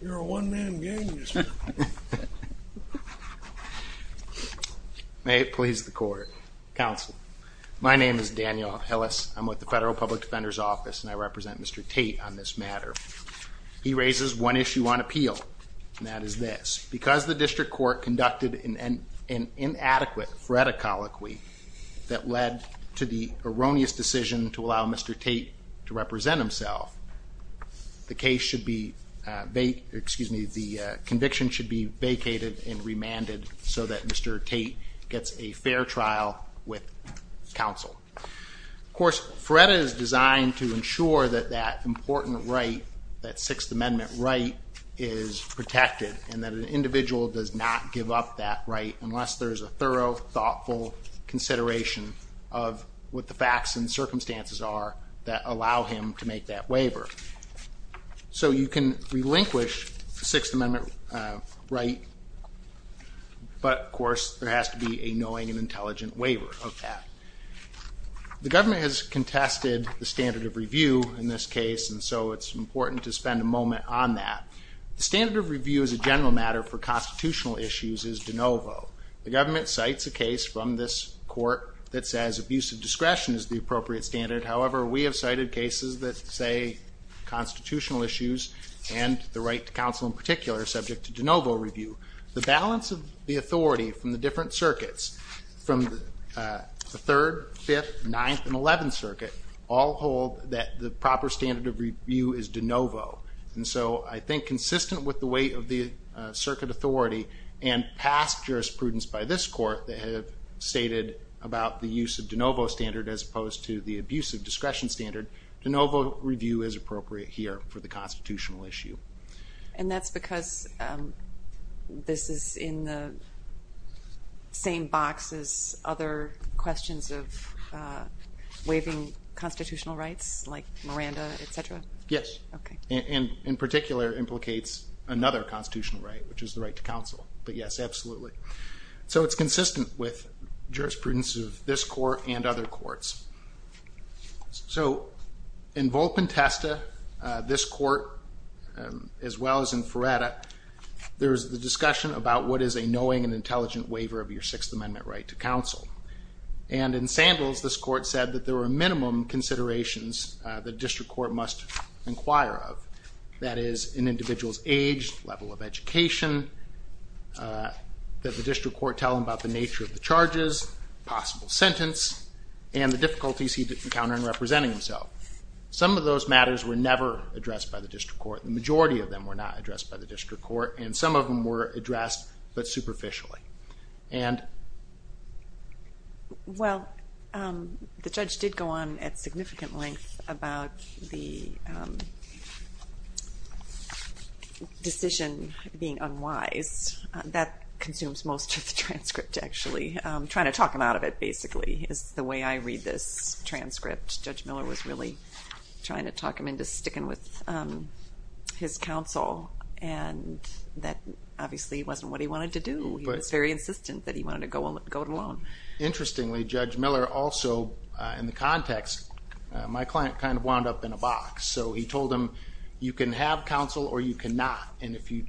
You're a one man gang. May it please the court. Counsel, my name is Daniel Hillis. I'm with the Federal Public Defender's Office and I represent Mr. Tate on this matter. He raises one issue on appeal, and that is this. Because the district court conducted an inadequate FREDA colloquy that led to the erroneous decision to allow Mr. Tate to represent himself, the case should be, excuse me, the conviction should be vacated and remanded so that Mr. Tate gets a fair trial with counsel. Of course, FREDA is designed to ensure that that important right, that Sixth Amendment right, is protected and that an individual does not give up that right unless there's a thorough thoughtful consideration of what the facts and circumstances are that allow him to make that waiver. So you can relinquish the Sixth Amendment right, but of course, there has to be a knowing and intelligent waiver of that. The government has contested the standard of review in this case and so it's important to spend a moment on that. The standard of review as a general matter for constitutional issues is de novo. The government cites a case that the District Court from this court that says abusive discretion is the appropriate standard. However, we have cited cases that say constitutional issues and the right to counsel in particular are subject to de novo review. The balance of the authority from the different circuits from the 3rd, 5th, 9th, and 11th Circuit all hold that the proper standard of review is de novo. And so I think consistent with the weight of the circuit authority and past jurisprudence by this court that has stated about the use of de novo standard as opposed to the abusive discretion standard, de novo review is appropriate here for the constitutional issue. And that's because this is in the same box as other questions of waiving constitutional rights like Miranda, etc.? Yes, and in particular implicates another constitutional right, which is the right to counsel. But yes, absolutely. So it's consistent with jurisprudence of this court and other courts. So in Volp and Testa, this court, as well as in Ferretta, there's the discussion about what is a knowing and intelligent waiver of your Sixth Amendment right to counsel. And in Sandals, this court said that there are minimum considerations the District Court must inquire of. That is an individual's age, level of education, that the District Court tell him about the nature of the charges, possible sentence, and the difficulties he did encounter in representing himself. Some of those matters were never addressed by the District Court. The majority of them were not addressed by the District Court, and some of them were addressed, but superficially. Well, the judge did go on at significant length about the decision being unwise. That consumes most of the transcript, actually. I'm trying to talk him out of it, basically, is the way I read this transcript. Judge Miller was really trying to talk him into sticking with his counsel, and that obviously wasn't what he wanted to do. He was very insistent that he wanted to go it alone. Interestingly, Judge Miller also, in the context, my client kind of wound up in a box. So he told him, you can have counsel or you cannot, and if you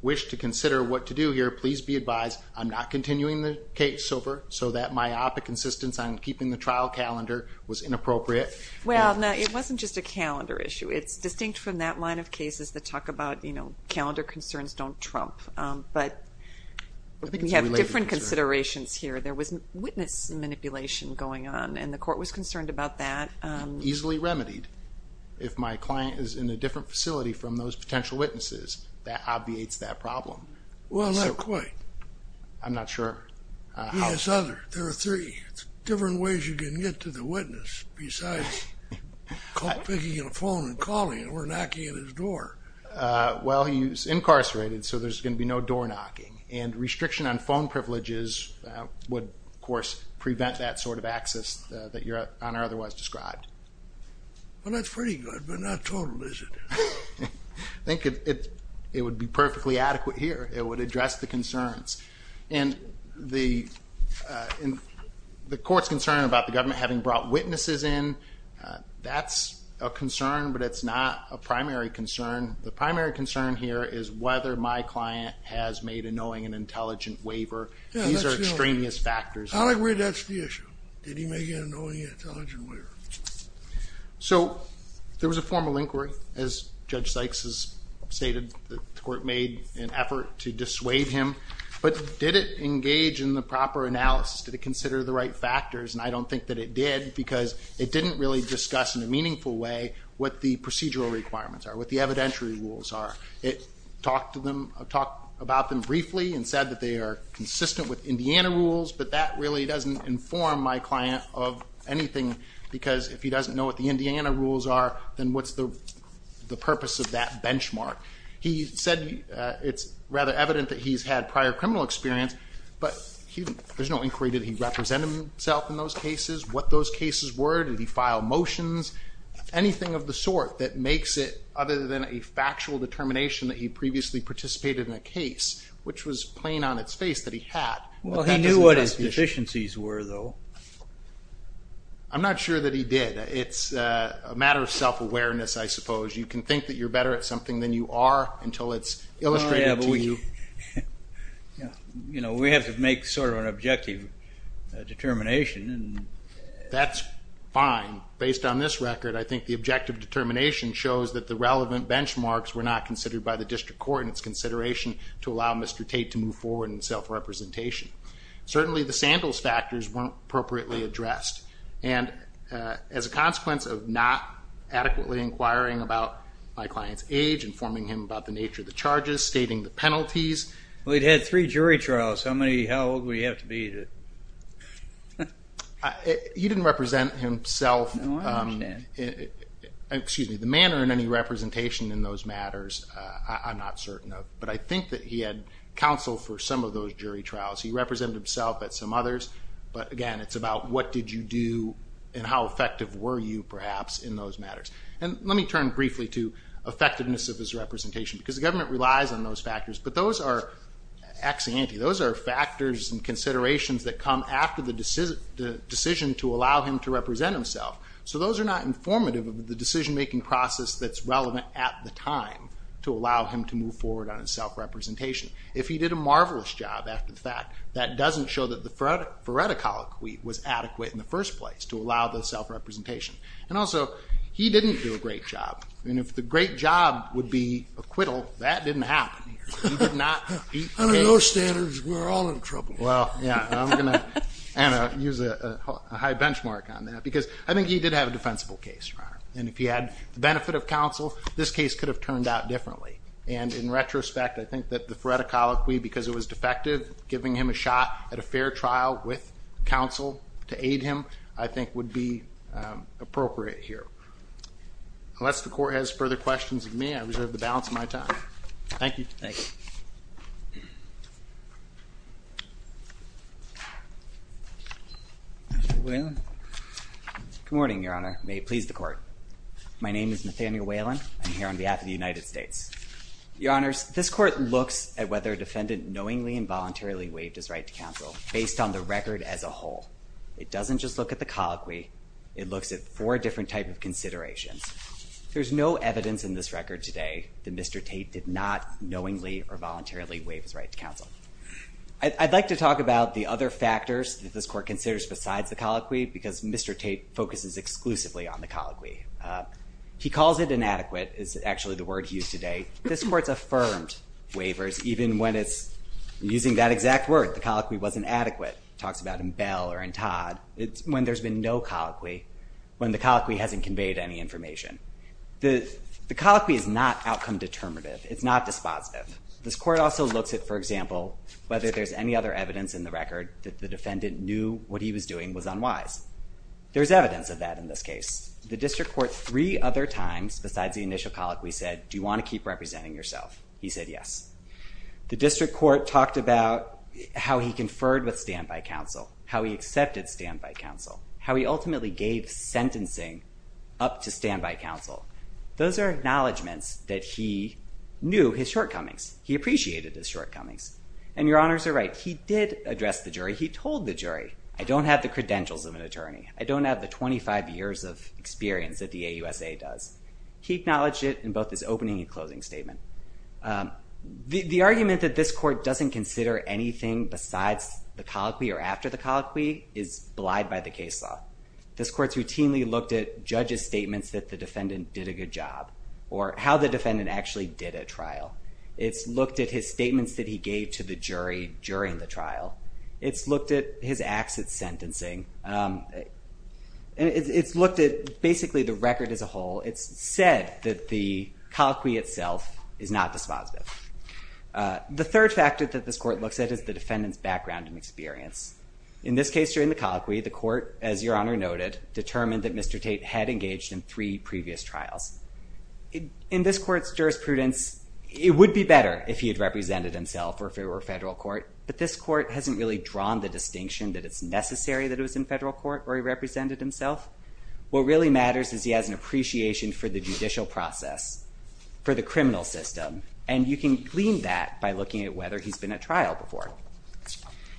wish to consider what to do here, please be advised I'm not continuing the case over so that myopic insistence on keeping the trial calendar was inappropriate. Well, it wasn't just a calendar issue. It's distinct from that line of cases that talk about, you know, calendar concerns don't trump, but we have different considerations here. There was witness manipulation going on, and the court was remedied. If my client is in a different facility from those potential witnesses, that obviates that problem. Well, not quite. I'm not sure. There are three different ways you can get to the witness besides picking up a phone and calling, or knocking at his door. Well, he's incarcerated, so there's going to be no door knocking, and restriction on phone privileges would, of course, prevent that sort of access that you're on or otherwise described. Well, that's pretty good, but not total, is it? I think it would be perfectly adequate here. It would address the concerns. And the court's concern about the government having brought witnesses in, that's a concern, but it's not a primary concern. The primary concern here is whether my client has made a knowing and intelligent waiver. These are extraneous factors. I agree that's the issue. Did he make a knowing and intelligent waiver? So, there was a formal inquiry, as Judge Sykes has stated, the court made an effort to dissuade him, but did it engage in the proper analysis? Did it consider the right factors? And I don't think that it did, because it didn't really discuss in a meaningful way what the procedural requirements are, what the evidentiary rules are. It talked to them, talked about them briefly, and said that they are consistent with Indiana rules, but that really doesn't inform my client of anything, because if he doesn't know what the Indiana rules are, then what's the purpose of that benchmark? He said it's rather evident that he's had prior criminal experience, but there's no inquiry. Did he represent himself in those cases? What those cases were? Did he file motions? Anything of the sort that makes it other than a factual determination that he previously participated in a case, which was plain on its face that he had. Well, he knew what his deficiencies were, though. I'm not sure that he did. It's a matter of self-awareness, I suppose. You can think that you're better at something than you are until it's illustrated to you. You know, we have to make sort of an objective determination. That's fine. Based on this record, I think the objective determination shows that the relevant benchmarks were not considered by the district court in its consideration to allow Mr. Tate to move forward in self-representation. Certainly, the Sandals factors weren't appropriately addressed, and as a consequence of not adequately inquiring about my client's age, informing him about the nature of the charges, stating the penalties. Well, he'd had three jury trials. How old would he have to be? He didn't represent himself, excuse me, the manner in any representation in those matters, I'm not certain of. But I think that he had counsel for some of those jury trials. He represented himself at some others, but again, it's about what did you do and how effective were you, perhaps, in those matters. And let me turn briefly to effectiveness of his representation, because the government relies on those factors. But those are, axiante, those are factors and considerations that come after the decision to allow him to represent himself. So those are not informative of the decision-making process that's taking time to allow him to move forward on his self-representation. If he did a marvelous job after the fact, that doesn't show that the phoreticology was adequate in the first place, to allow the self-representation. And also, he didn't do a great job. And if the great job would be acquittal, that didn't happen. Under those standards, we're all in trouble. Well, yeah, I'm gonna use a high benchmark on that, because I think he did have a defensible case, Your Honor. And if he didn't, the case could have turned out differently. And in retrospect, I think that the phoreticology, because it was defective, giving him a shot at a fair trial with counsel to aid him, I think would be appropriate here. Unless the Court has further questions of me, I reserve the balance of my time. Thank you. Good morning, Your Honor. May it please the Court. My name is Nathaniel Whelan. I'm here on behalf of the United States. Your Honors, this Court looks at whether a defendant knowingly and voluntarily waived his right to counsel, based on the record as a whole. It doesn't just look at the colloquy. It looks at four different types of considerations. There's no evidence in this record today that Mr. Tate did not knowingly or voluntarily waive his right to counsel. I'd like to talk about the other factors that this Court considers besides the colloquy, because Mr. Tate focuses exclusively on the colloquy. He calls it inadequate, is actually the word he used today. This Court's affirmed waivers, even when it's using that exact word. The colloquy wasn't adequate. Talks about in Bell or in Todd. It's when there's been no colloquy, when the colloquy hasn't conveyed any information. The colloquy is not outcome-determinative. It's not dispositive. This Court also looks at, for example, whether there's any other evidence in the record that the defendant knew what he was doing was unwise. There's evidence of that in this case. The District Court three other times besides the initial colloquy said, do you want to keep representing yourself? He said yes. The District Court talked about how he conferred with standby counsel, how he accepted standby counsel, how he ultimately gave sentencing up to standby counsel. Those are acknowledgements that he knew his shortcomings. He appreciated his shortcomings. And your honors are right. He did address the jury. He told the jury, I don't have the credentials of an He acknowledged it in both his opening and closing statement. The argument that this Court doesn't consider anything besides the colloquy or after the colloquy is belied by the case law. This Court's routinely looked at judges' statements that the defendant did a good job or how the defendant actually did a trial. It's looked at his statements that he gave to the jury during the trial. It's looked at his acts at sentencing. It's looked at basically the record as a said that the colloquy itself is not dispositive. The third factor that this Court looks at is the defendant's background and experience. In this case during the colloquy, the Court, as your honor noted, determined that Mr. Tate had engaged in three previous trials. In this Court's jurisprudence, it would be better if he had represented himself or if it were a federal court, but this Court hasn't really drawn the distinction that it's necessary that it was in federal court or he represented himself. What really matters is he has an appreciation for the judicial process, for the criminal system, and you can glean that by looking at whether he's been at trial before.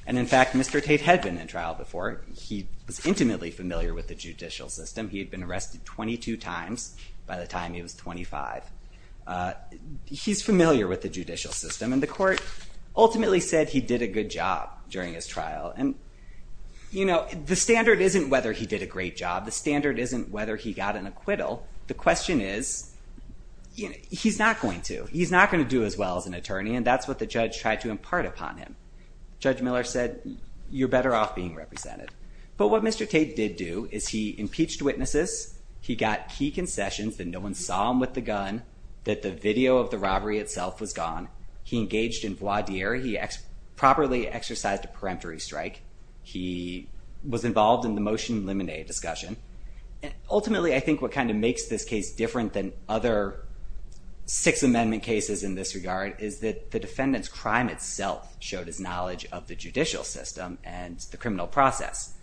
And in fact, Mr. Tate had been in trial before. He was intimately familiar with the judicial system. He had been arrested 22 times by the time he was 25. He's familiar with the judicial system and the Court ultimately said he did a good job during his trial. And, you know, the standard isn't whether he did a great job. The question is, you know, he's not going to. He's not going to do as well as an attorney and that's what the judge tried to impart upon him. Judge Miller said you're better off being represented. But what Mr. Tate did do is he impeached witnesses. He got key concessions that no one saw him with the gun, that the video of the robbery itself was gone. He engaged in voir dire. He properly exercised a peremptory strike. He was involved in the motion limine discussion. Ultimately, I think what kind of makes this case different than other Six Amendment cases in this regard is that the defendant's crime itself showed his knowledge of the judicial system and the criminal process.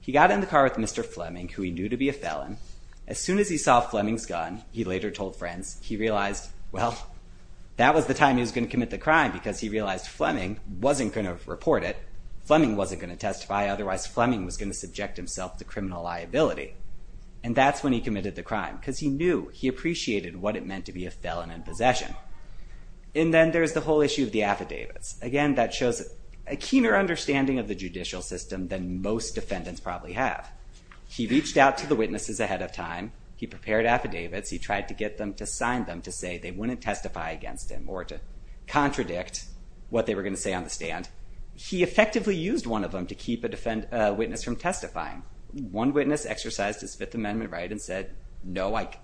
He got in the car with Mr. Fleming, who he knew to be a felon. As soon as he saw Fleming's gun, he later told friends he realized, well, that was the time he was going to commit the crime because he realized Fleming wasn't going to report it. Fleming wasn't going to testify. Otherwise, Fleming was going to subject himself to criminal liability. And that's when he committed the crime because he knew he appreciated what it meant to be a felon in possession. And then there's the whole issue of the affidavits. Again, that shows a keener understanding of the judicial system than most defendants probably have. He reached out to the witnesses ahead of time. He prepared affidavits. He tried to get them to sign them to say they wouldn't testify against him or to contradict what they were going to say on the stand. He effectively used one of them to keep a witness from testifying. One witness exercised his Fifth Amendment right and said, no, like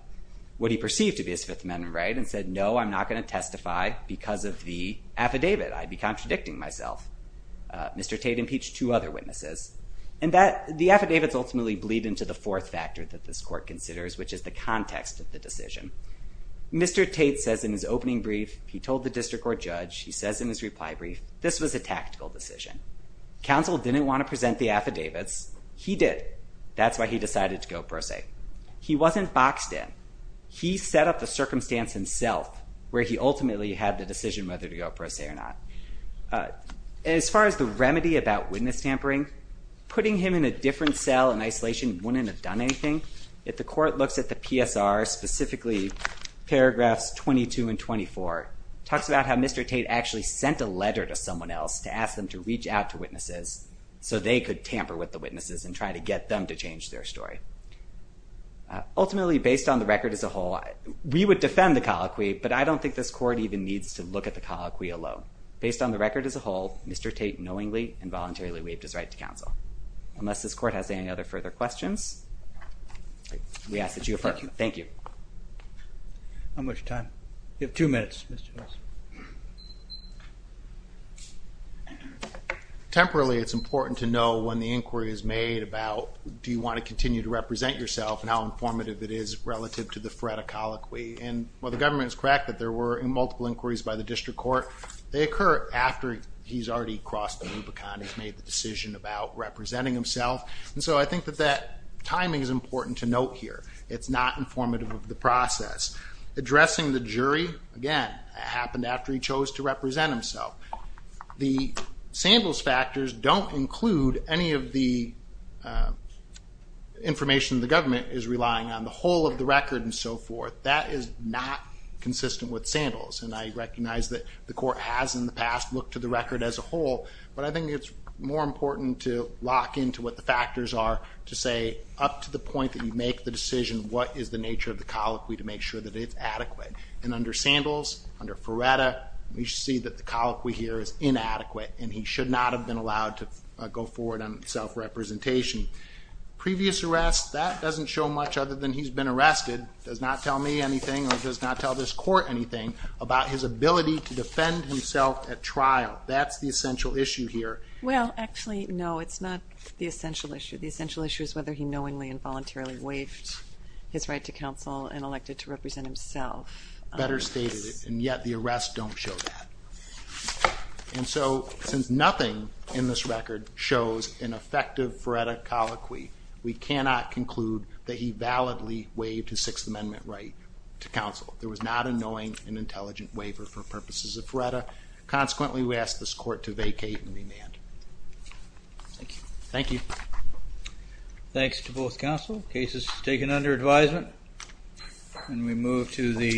what he perceived to be his Fifth Amendment right and said, no, I'm not going to testify because of the affidavit. I'd be contradicting myself. Mr. Tate impeached two other witnesses. And that the affidavits ultimately bleed into the fourth factor that this court considers, which is the context of the decision. Mr. Tate says in his opening brief, he told the district court judge, he says in his reply brief, this was a tactical decision. Counsel didn't want to present the affidavits. He did. That's why he decided to go pro se. He wasn't boxed in. He set up the circumstance himself, where he ultimately had the decision whether to go pro se or not. As far as the remedy about witness tampering, putting him in a different cell in isolation wouldn't have done anything. If the court looks at the PSR, specifically, paragraphs 22 and 24 talks about how Mr. Tate actually sent a letter to someone else to ask them to reach out to witnesses so they could tamper with the witnesses and try to get them to change their story. Ultimately, based on the record as a whole, we would defend the colloquy, but I don't think this court even needs to look at the colloquy alone. Based on the record as a whole, Mr. Tate knowingly and voluntarily waived his right to counsel. Unless this court has any other further questions, we ask that you affirm. Thank you. Thank you. How much time? You have two minutes, Mr. Tate. Temporarily, it's important to know when the inquiry is made about, do you want to continue to represent yourself and how informative it is relative to the threat of colloquy. And while the government's correct that there were multiple inquiries by the district court, they occur after he's already crossed the Rubicon, he's made the decision about representing himself. And so I think that that timing is important to note here. It's not informative of the process. Addressing the jury, again, happened after he chose to represent himself. The Sandals factors don't include any of the information the government is relying on. The whole of the record and so forth, that is not consistent with Sandals. And I recognize that the court has in the past looked to the record as a whole, but I think it's more important to lock into what the nature of the colloquy to make sure that it's adequate. And under Sandals, under Ferretta, we see that the colloquy here is inadequate and he should not have been allowed to go forward on self-representation. Previous arrests, that doesn't show much other than he's been arrested, does not tell me anything or does not tell this court anything about his ability to defend himself at trial. That's the essential issue here. Well, actually, no, it's not the essential issue. The essential issue is whether he knowingly and voluntarily waived his right to counsel and elected to represent himself. Better stated, and yet the arrests don't show that. And so, since nothing in this record shows an effective Ferretta colloquy, we cannot conclude that he validly waived his Sixth Amendment right to counsel. There was not a knowing and intelligent waiver for purposes of Ferretta. Consequently, we asked this court to vacate and be adjourned.